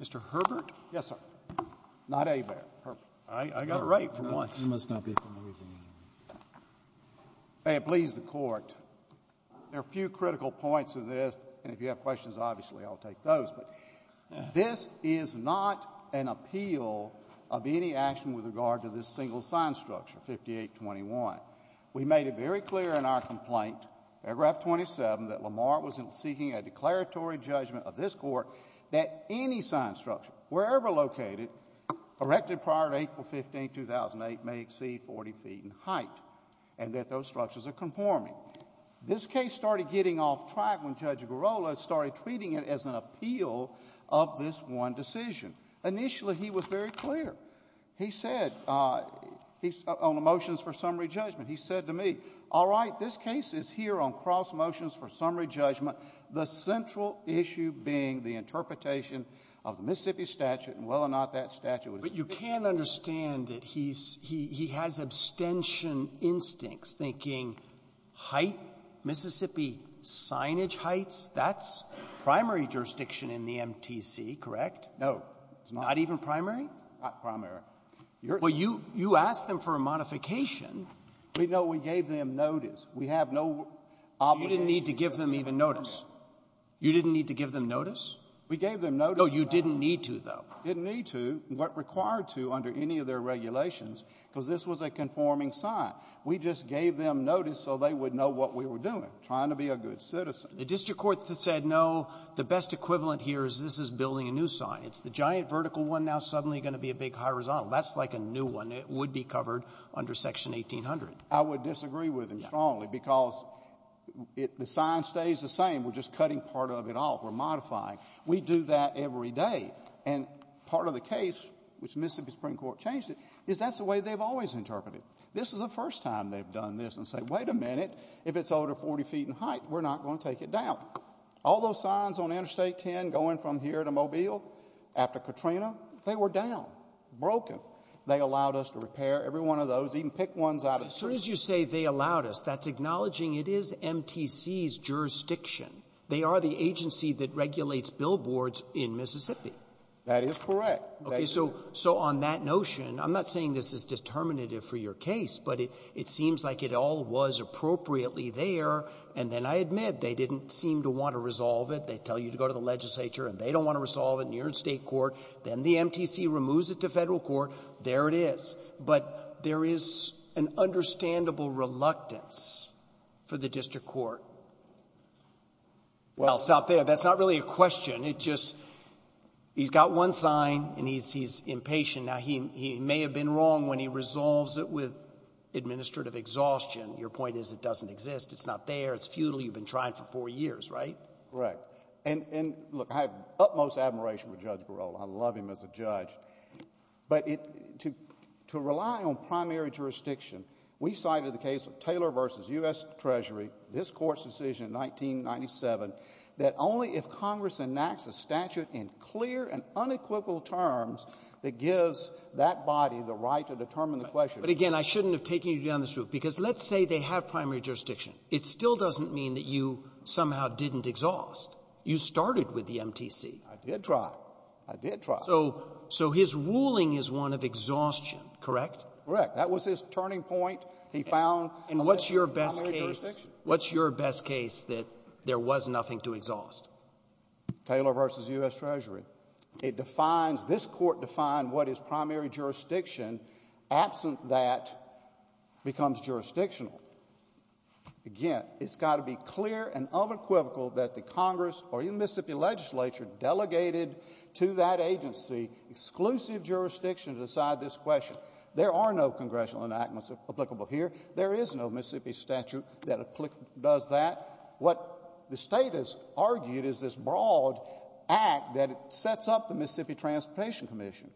Mr. Herbert? Yes, sir. Not ABAIR. I got it right for once. You must not be familiar with ABAIR. May it please the Court, there are a few critical points in this, and if you have questions, obviously I'll take those, but this is not an appeal of any action with regard to this single sign structure, 5821. We made it very clear in our complaint, paragraph 27, that Lamar was seeking a declaratory judgment of this Court that any sign structure, wherever located, erected prior to April 15, 2008, may exceed 40 feet in height, and that those structures are conforming. This case started getting off track when Judge Girola started treating it as an appeal of this one decision. Initially, he was very clear. He said, on the motions for summary judgment, he said to me, all right, this case is here on cross-motions for summary judgment, the central issue being the interpretation of the Mississippi statute and whether or not that statute was used. But you can understand that he's — he has abstention instincts, thinking height, Mississippi signage heights, that's primary jurisdiction in the MTC, correct? Girola, not even primary? Girola, not primary. Well, you asked them for a modification. We know we gave them notice. We have no obligation to give them notice. You didn't need to give them even notice? You didn't need to give them notice? We gave them notice. No, you didn't need to, though. Didn't need to, but required to under any of their regulations, because this was a conforming sign. We just gave them notice so they would know what we were doing, trying to be a good citizen. The district court said, no, the best equivalent here is this is building a new sign. It's the giant vertical one now suddenly going to be a big horizontal. That's like a new one. It would be covered under Section 1800. I would disagree with him strongly, because it — the sign stays the same. We're just cutting part of it off. We're modifying. We do that every day. And part of the case, which Mississippi Supreme Court changed it, is that's the way they've always interpreted it. This is the first time they've done this and said, wait a minute, if it's over 40 feet in height, we're not going to take it down. All those signs on Interstate 10 going from here to Mobile after Katrina, they were down, broken. They allowed us to repair every one of those, even pick ones out of the trees. As soon as you say they allowed us, that's acknowledging it is MTC's jurisdiction. They are the agency that regulates billboards in Mississippi. That is correct. Okay. So on that notion, I'm not saying this is determinative for your case, but it seems like it all was appropriately there, and then I admit they didn't seem to want to resolve it. They tell you to go to the legislature, and they don't want to resolve it in your own State court. Then the MTC removes it to Federal court. There it is. But there is an understandable reluctance for the district court. Well, I'll stop there. That's not really a question. It's just he's got one sign, and he's impatient. Now, he may have been wrong when he resolves it with administrative exhaustion. Your point is it doesn't exist. It's not there. It's futile. You've been trying for four years, right? Correct. And look, I have utmost admiration for Judge Barola. I love him as a judge. But to rely on primary jurisdiction, we cited the case of Taylor versus U.S. statute in clear and unequivocal terms that gives that body the right to determine the question. But, again, I shouldn't have taken you down this route. Because let's say they have primary jurisdiction. It still doesn't mean that you somehow didn't exhaust. You started with the MTC. I did try. I did try. So his ruling is one of exhaustion, correct? Correct. That was his turning point. He found a limit to primary jurisdiction. And what's your best case that there was nothing to exhaust? Taylor versus U.S. Treasury. It defines, this court defined what is primary jurisdiction. Absent that becomes jurisdictional. Again, it's got to be clear and unequivocal that the Congress or even Mississippi legislature delegated to that agency exclusive jurisdiction to decide this question. There are no congressional enactments applicable here. There is no Mississippi statute that does that. What the state has argued is this broad act that sets up the Mississippi Transportation Commission.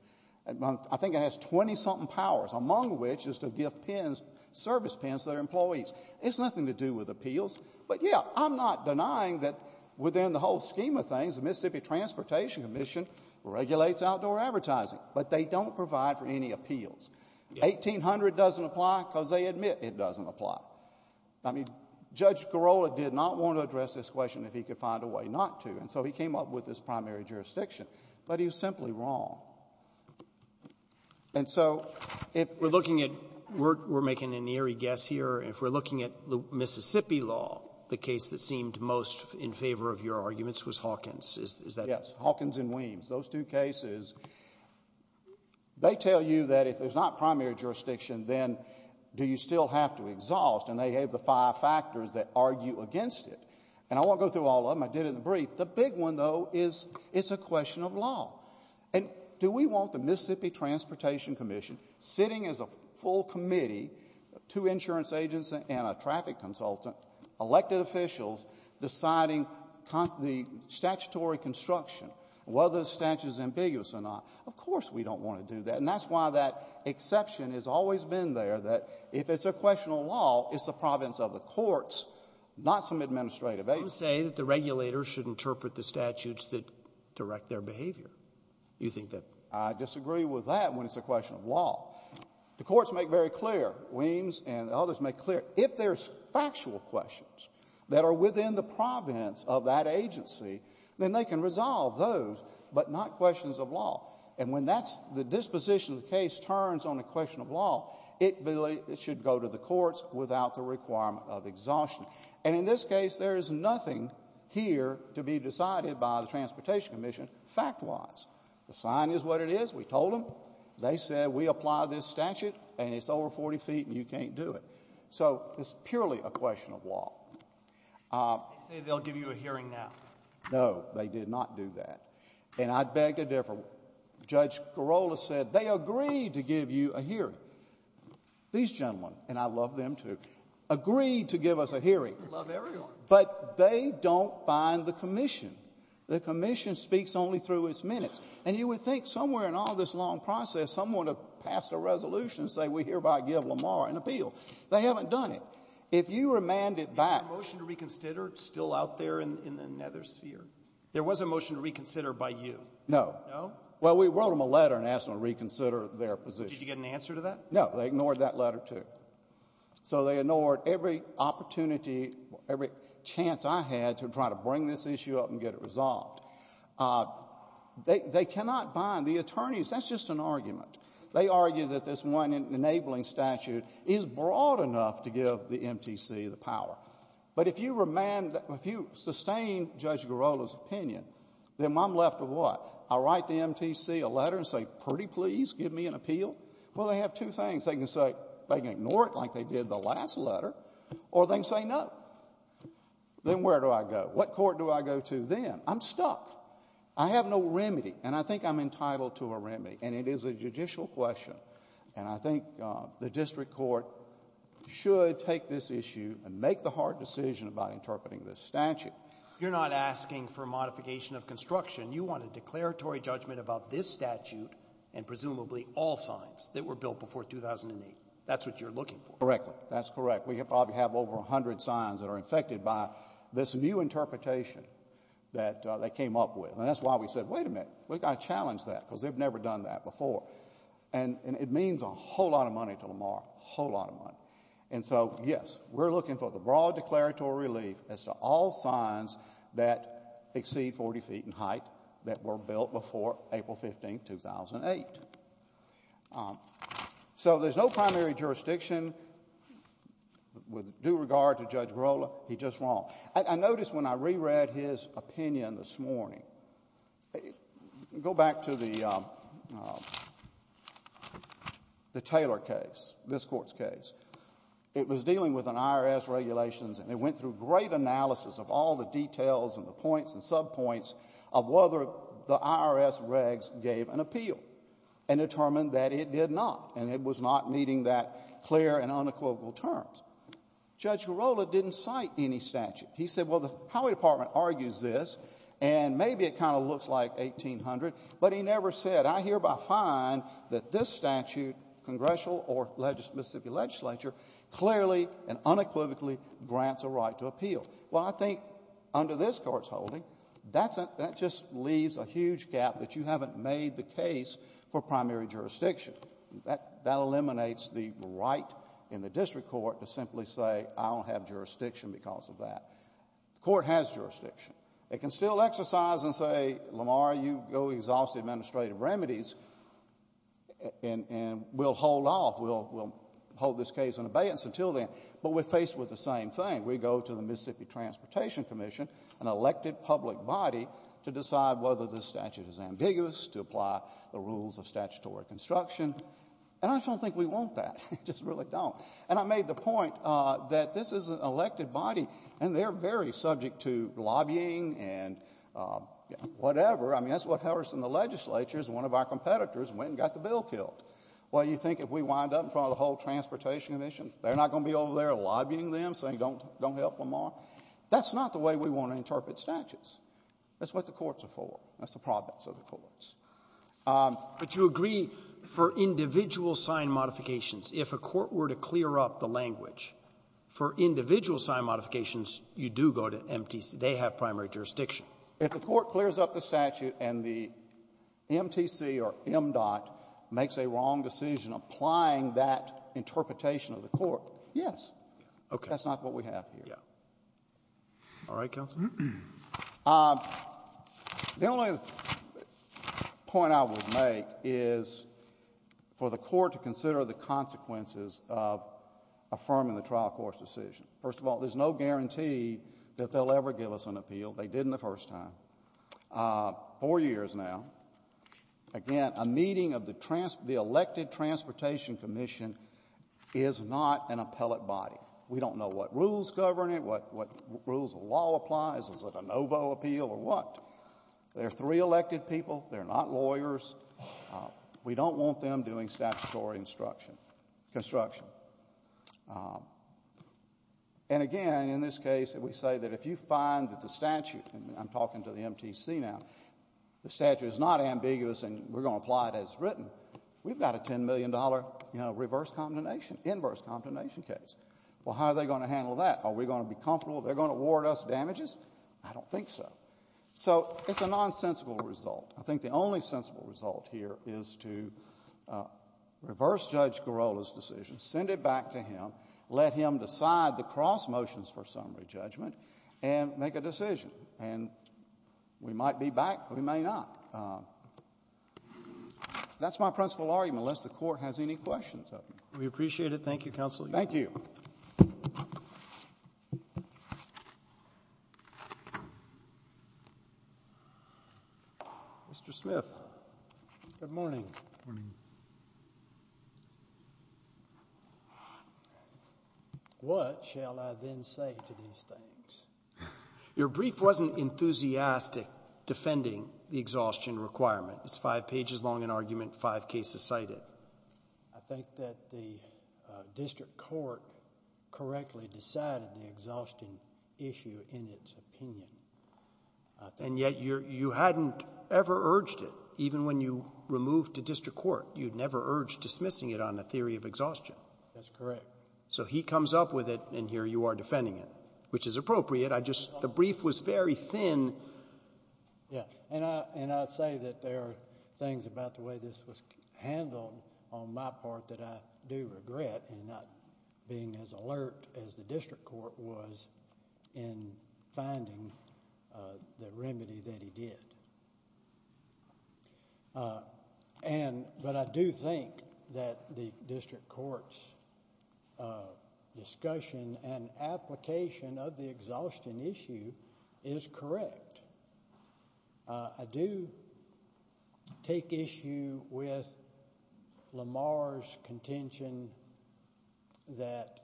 I think it has 20-something powers, among which is to give pens, service pens, to their employees. It's nothing to do with appeals. But, yeah, I'm not denying that within the whole scheme of things, the Mississippi Transportation Commission regulates outdoor advertising. But they don't provide for any appeals. 1800 doesn't apply because they admit it doesn't apply. I mean, Judge Girola did not want to address this question if he could find a way not to. And so he came up with this primary jurisdiction. But he was simply wrong. And so if we're looking at we're making an eerie guess here. If we're looking at Mississippi law, the case that seemed most in favor of your arguments was Hawkins. Is that right? Yes. Hawkins and Weems. Those two cases, they tell you that if there's not primary jurisdiction, then do you still have to exhaust? And they have the five factors that argue against it. And I won't go through all of them. I did it in the brief. The big one, though, is it's a question of law. And do we want the Mississippi Transportation Commission sitting as a full committee, two insurance agents and a traffic consultant, elected officials deciding the statutory construction, whether the statute is ambiguous or not? Of course we don't want to do that. And that's why that exception has always been there. That if it's a question of law, it's the province of the courts, not some administrative agency. You say that the regulators should interpret the statutes that direct their behavior. You think that? I disagree with that when it's a question of law. The courts make very clear, Weems and others make clear, if there's factual questions that are within the province of that agency, then they can resolve those, but not questions of law. And when the disposition of the case turns on a question of law, it should go to the courts without the requirement of exhaustion. And in this case, there is nothing here to be decided by the Transportation Commission fact-wise. The sign is what it is. We told them. They said, we apply this statute, and it's over 40 feet, and you can't do it. So it's purely a question of law. They say they'll give you a hearing now. No, they did not do that. And I beg to differ. Judge Carolla said, They agreed to give you a hearing. These gentlemen, and I love them, too, agreed to give us a hearing. Love everyone. But they don't bind the Commission. The Commission speaks only through its minutes. And you would think somewhere in all this long process, someone would have passed a resolution saying, We hereby give Lamar an appeal. They haven't done it. If you remand it back — Is there a motion to reconsider still out there in the nether sphere? There was a motion to reconsider by you. No. Well, we wrote them a letter and asked them to reconsider their position. Did you get an answer to that? No. They ignored that letter, too. So they ignored every opportunity, every chance I had to try to bring this issue up and get it resolved. They cannot bind the attorneys. That's just an argument. They argue that this one enabling statute is broad enough to give the MTC the power. But if you remand — if you sustain Judge Girola's opinion, then I'm left with what? I write the MTC a letter and say, Pretty please give me an appeal? Well, they have two things. They can say — they can ignore it like they did the last letter, or they can say no. Then where do I go? What court do I go to then? I'm stuck. I have no remedy. And I think I'm entitled to a remedy. And it is a judicial question. And I think the district court should take this issue and make the hard decision about interpreting this statute. You're not asking for a modification of construction. You want a declaratory judgment about this statute and presumably all signs that were built before 2008. That's what you're looking for. Correctly. That's correct. We probably have over 100 signs that are infected by this new interpretation that they came up with. And that's why we said, Wait a minute. We've got to challenge that because they've never done that before. And it means a whole lot of money to Lamar, a whole lot of money. And so, yes, we're looking for the broad declaratory relief as to all signs that exceed 40 feet in height that were built before April 15, 2008. So there's no primary jurisdiction with due regard to Judge Varola. He's just wrong. I noticed when I reread his opinion this morning — go back to the Taylor case, this court's case. It was dealing with an IRS regulations. And it went through great analysis of all the details and the points and subpoints of whether the IRS regs gave an appeal and determined that it did not. And it was not meeting that clear and unequivocal terms. Judge Varola didn't cite any statute. He said, Well, the highway department argues this. And maybe it kind of looks like 1800. But he never said, I hereby find that this statute, congressional or Mississippi legislature, clearly and unequivocally grants a right to appeal. Well, I think under this court's holding, that just leaves a huge gap that you haven't made the case for primary jurisdiction. That eliminates the right in the district court to simply say, I don't have jurisdiction because of that. The court has jurisdiction. It can still exercise and say, Lamar, you go exhaust the administrative remedies and we'll hold off. We'll hold this case in abeyance until then. But we're faced with the same thing. We go to the Mississippi Transportation Commission, an elected public body, to decide whether this statute is ambiguous, to apply the rules of statutory construction. And I just don't think we want that. We just really don't. And I made the point that this is an elected body and they're very subject to lobbying and whatever. I mean, that's what Harrison, the legislature, is one of our competitors, went and got the bill killed. Well, you think if we wind up in front of the whole Transportation Commission, they're not going to be over there lobbying them, saying don't help Lamar? That's not the way we want to interpret statutes. That's what the courts are for. That's the province of the courts. But you agree for individual sign modifications, if a court were to clear up the language, for individual sign modifications, you do go to MTC. They have primary jurisdiction. If the court clears up the statute and the MTC or MDOT makes a wrong decision applying that interpretation of the court, yes. Okay. That's not what we have here. Yeah. All right, counsel. The only point I would make is for the court to consider the consequences of affirming the trial court's decision. First of all, there's no guarantee that they'll ever give us an appeal. They didn't the first time. Four years now. Again, a meeting of the elected Transportation Commission is not an appellate body. We don't know what rules govern it, what rules of law apply. Is it a no vote appeal or what? There are three elected people. They're not lawyers. We don't want them doing statutory instruction. And again, in this case, we say that if you find that the statute, and I'm talking to the MTC now, the statute is not ambiguous and we're going to apply it as written, we've got a $10 million reverse condemnation, inverse condemnation case. Well, how are they going to handle that? Are we going to be comfortable? They're going to award us damages? I don't think so. So it's a nonsensical result. I think the only sensible result here is to reverse Judge Girola's decision, send it back to him, let him decide the cross motions for summary judgment, and make a decision. And we might be back, we may not. That's my principal argument, unless the court has any questions of me. We appreciate it. Thank you, counsel. Thank you. Mr. Smith, good morning. Morning. What shall I then say to these things? Your brief wasn't enthusiastic defending the exhaustion requirement. It's five pages long in argument, five cases cited. I think that the district court correctly decided the exhaustion issue in its opinion. And yet, you hadn't ever urged it. Even when you removed to district court, you'd never urged dismissing it on the theory of exhaustion. That's correct. So he comes up with it, and here you are defending it, which is appropriate. The brief was very thin. Yeah, and I'd say that there are things about the way this was handled, on my part, that I do regret in not being as alert as the district court was in finding the remedy that he did. But I do think that the district court's discussion and application of the exhaustion issue is correct. I do take issue with Lamar's contention that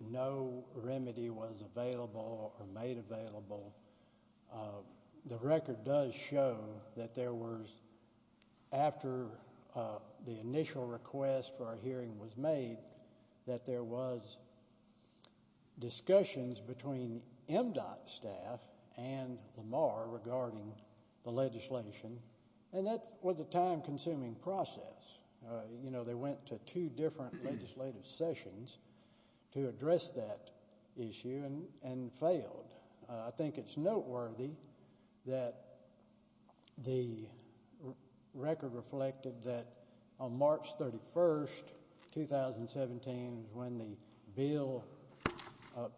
no remedy was available or made available. The record does show that there was, after the initial request for a hearing was made, that there was discussions between MDOT staff and Lamar regarding the legislation. And that was a time-consuming process. They went to two different legislative sessions to address that issue and failed. I think it's noteworthy that the record reflected that on March 31, 2017, when the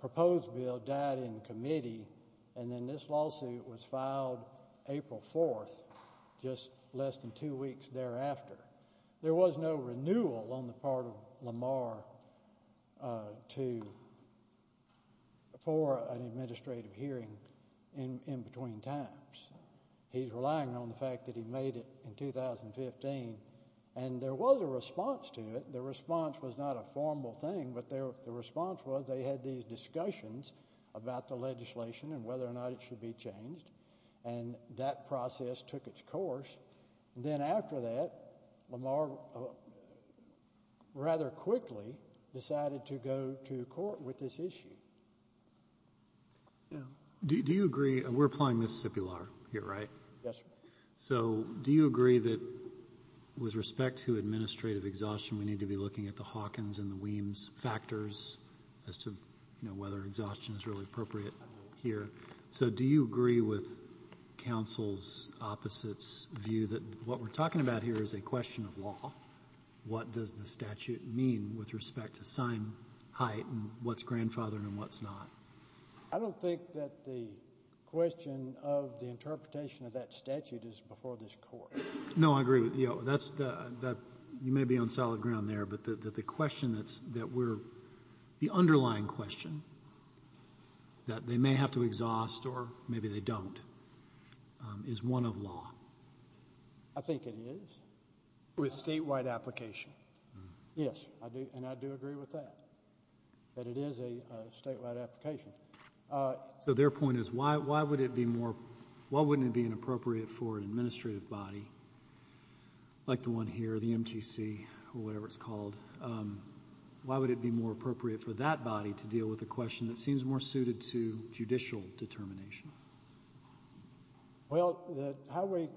proposed bill died in committee, and then this lawsuit was filed April 4, just less than two weeks thereafter, there was no renewal on the part of Lamar for an administrative hearing in between times. He's relying on the fact that he made it in 2015. And there was a response to it. The response was not a formal thing, but the response was they had these discussions about the legislation and whether or not it should be changed. And that process took its course. Then after that, Lamar rather quickly decided to go to court with this issue. Do you agree, and we're applying Mississippi law here, right? Yes, sir. So do you agree that with respect to administrative exhaustion, we need to be looking at the Hawkins and the Weems factors as to whether exhaustion is really appropriate here? So do you agree with counsel's opposite's view that what we're talking about here is a question of law? What does the statute mean with respect to sign height, and what's grandfathered and what's not? I don't think that the question of the interpretation of that statute is before this court. No, I agree with you. You may be on solid ground there, but the underlying question that they may have to exhaust, or maybe they don't, is one of law. I think it is, with statewide application. Yes, and I do agree with that, that it is a statewide application. So their point is, why wouldn't it be inappropriate for an administrative body, like the one here, the MTC, or whatever it's called, why would it be more appropriate for that body to deal with a question that seems more suited to judicial determination? Well, the Highway,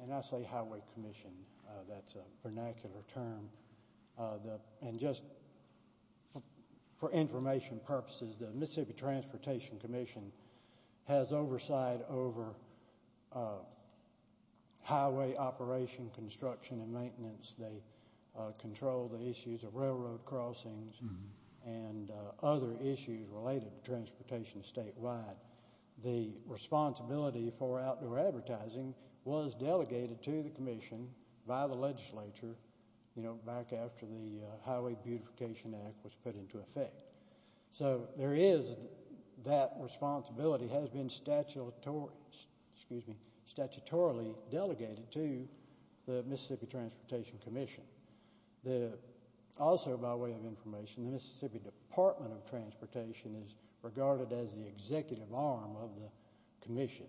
and I say Highway Commission, that's a vernacular term. And just for information purposes, the Mississippi Transportation Commission has oversight over highway operation, construction, and maintenance. They control the issues of railroad crossings, and other issues related to transportation statewide. The responsibility for outdoor advertising was delegated to the commission by the legislature back after the Highway Beautification Act was put into effect. So there is, that responsibility has been statutorily delegated to the Mississippi Transportation Commission. Also, by way of information, the Mississippi Department of Transportation is regarded as the executive arm of the commission.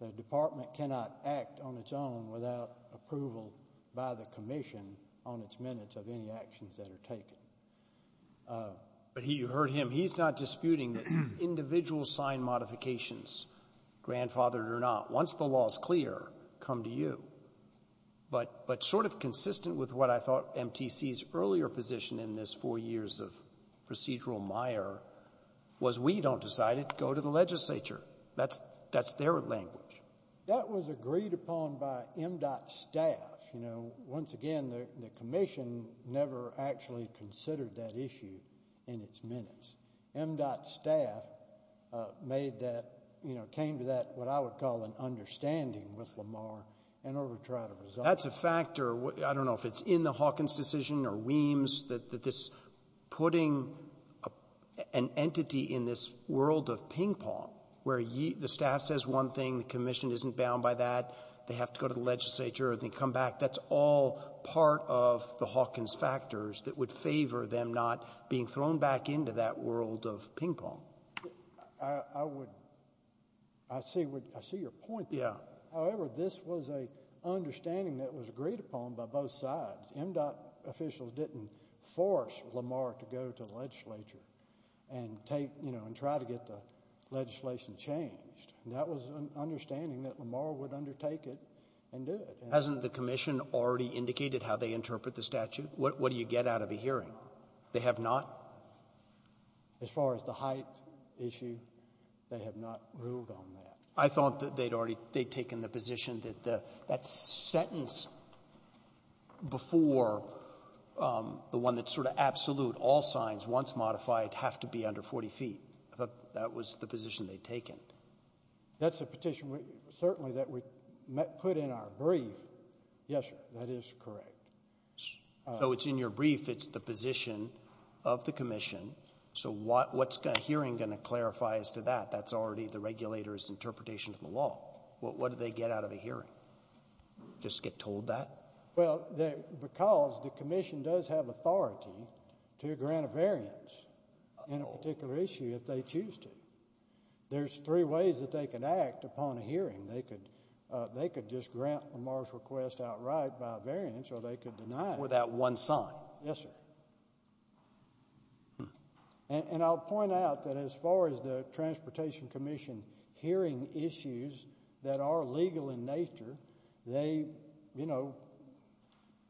The department cannot act on its own without approval by the commission on its minutes of any actions that are taken. But you heard him. He's not disputing that individual sign modifications, grandfathered or not, once the law is clear, come to you. But sort of consistent with what I thought MTC's earlier position in this four years of procedural mire was, we don't decide it, go to the legislature. That's their language. That was agreed upon by MDOT staff. Once again, the commission never actually considered that issue in its minutes. MDOT staff came to that, what I would call, an understanding with Lamar in order to try to resolve it. That's a factor. I don't know if it's in the Hawkins decision or Weems, that this putting an entity in this world of ping pong, where the staff says one thing, the commission isn't bound by that, they have to go to the legislature and then come back. That's all part of the Hawkins factors that would favor them not being thrown back into that world of ping pong. I would... I see your point there. However, this was an understanding that was agreed upon by both sides. MDOT officials didn't force Lamar to go to the legislature and try to get the legislation changed. That was an understanding that Lamar would undertake it and do it. Hasn't the commission already indicated how they interpret the statute? What do you get out of a hearing? They have not? As far as the height issue, they have not ruled on that. I thought that they'd already taken the position that that sentence before the one that's sort of absolute, all signs, once modified, have to be under 40 feet. I thought that was the position they'd taken. That's a petition, certainly, that we put in our brief. Yes, sir, that is correct. So it's in your brief, it's the position of the commission. So what's a hearing going to clarify as to that? That's already the regulator's interpretation of the law. What do they get out of a hearing? Just get told that? Well, because the commission does have authority to grant a variance in a particular issue if they choose to. There's three ways that they can act upon a hearing. They could just grant Lamar's request outright by a variance or they could deny it. Without one sign? Yes, sir. And I'll point out that as far as the Transportation Commission hearing issues that are legal in nature, they, you know,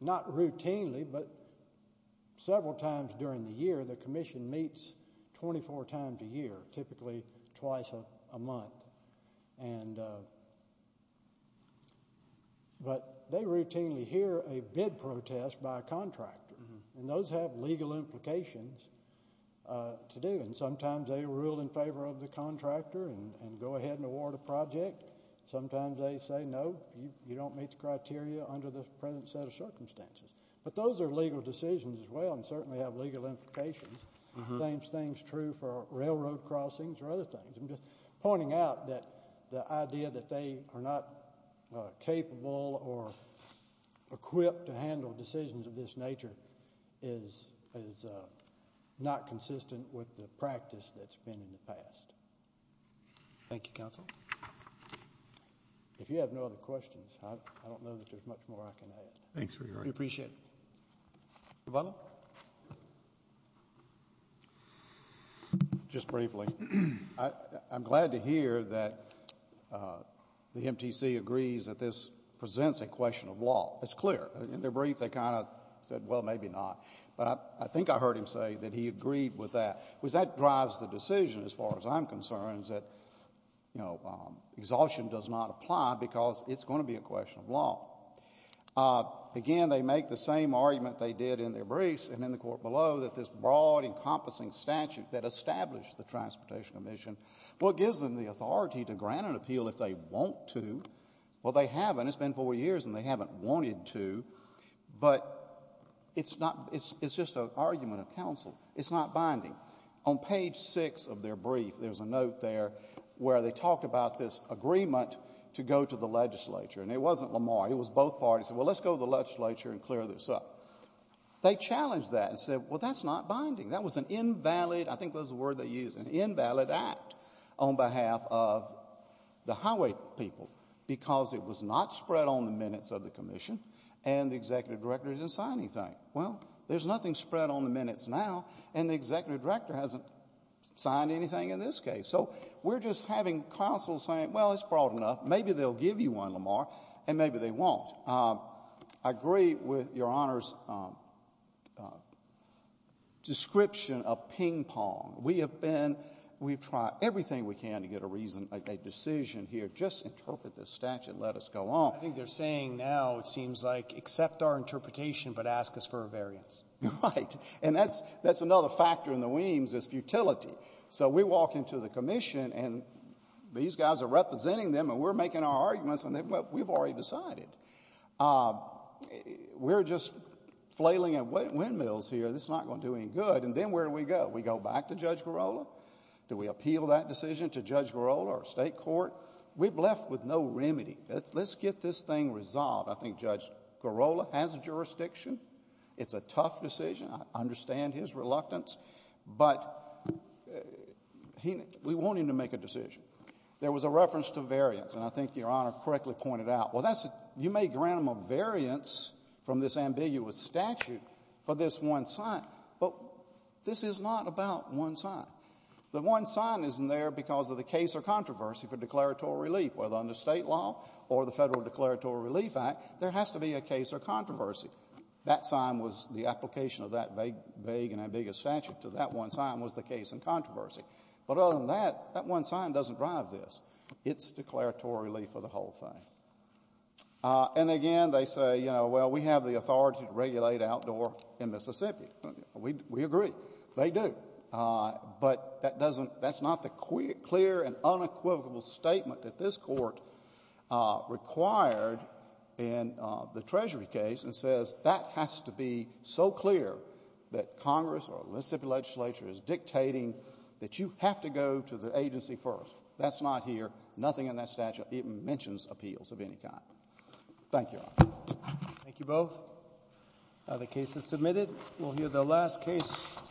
not routinely, but several times during the year, the commission meets 24 times a year, typically twice a month. But they routinely hear a bid protest by a contractor and those have legal implications to do. And sometimes they rule in favor of the contractor and go ahead and award a project. Sometimes they say, no, you don't meet the criteria under the present set of circumstances. But those are legal decisions as well and certainly have legal implications. It seems true for railroad crossings or other things. I'm just pointing out that the idea that they are not capable or equipped to handle decisions of this nature is not consistent with the practice that's been in the past. Thank you, counsel. If you have no other questions, I don't know that there's much more I can add. Thanks for your time. We appreciate it. Mr. Butler? Just briefly, I'm glad to hear that the MTC agrees that this presents a question of law. That's clear. In their brief, they kind of said, well, maybe not. But I think I heard him say that he agreed with that. Was that drives the decision as far as I'm concerned is that, you know, exhaustion does not apply because it's going to be a question of law. Again, they make the same argument they did in their briefs and in the court below that this broad, encompassing statute that established the Transportation Commission, well, it gives them the authority to grant an appeal if they want to. Well, they haven't. It's been four years and they haven't wanted to. But it's just an argument of counsel. It's not binding. On page six of their brief, there's a note there where they talked about this agreement to go to the legislature. And it wasn't Lamar. It was both parties. Well, let's go to the legislature and clear this up. They challenged that and said, well, that's not binding. That was an invalid, I think that's the word they used, an invalid act on behalf of the highway people because it was not spread on the minutes of the commission and the executive director didn't sign anything. Well, there's nothing spread on the minutes now and the executive director hasn't signed anything in this case. So we're just having counsel saying, well, it's broad enough. Maybe they'll give you one, Lamar, and maybe they won't. I agree with Your Honor's description of ping pong. We have been, we've tried everything we can to get a reason, a decision here. Just interpret this statute and let us go on. I think they're saying now, it seems like, accept our interpretation but ask us for a variance. You're right. And that's another factor in the weems is futility. So we walk into the commission and these guys are representing them and we're making our arguments and we've already decided. We're just flailing at windmills here. This is not going to do any good. And then where do we go? We go back to Judge Girola. Do we appeal that decision to Judge Girola or state court? We've left with no remedy. Let's get this thing resolved. I think Judge Girola has a jurisdiction. It's a tough decision. I understand his reluctance, but we want him to make a decision. There was a reference to variance and I think Your Honor correctly pointed out. Well, you may grant him a variance from this ambiguous statute for this one sign, but this is not about one sign. The one sign isn't there because of the case or controversy for declaratory relief, whether under state law or the Federal Declaratory Relief Act, there has to be a case or controversy. That sign was the application of that vague and ambiguous statute to that one sign was the case and controversy. But other than that, that one sign doesn't drive this. It's declaratory relief for the whole thing. And again, they say, you know, well, we have the authority to regulate outdoor in Mississippi. We agree, they do. But that's not the clear and unequivocal statement that this court required in the Treasury case and says that has to be so clear that Congress or the Mississippi legislature is dictating that you have to go to the agency first. That's not here. Nothing in that statute even mentions appeals of any kind. Thank you. Thank you both. Are the cases submitted? We'll hear the last case.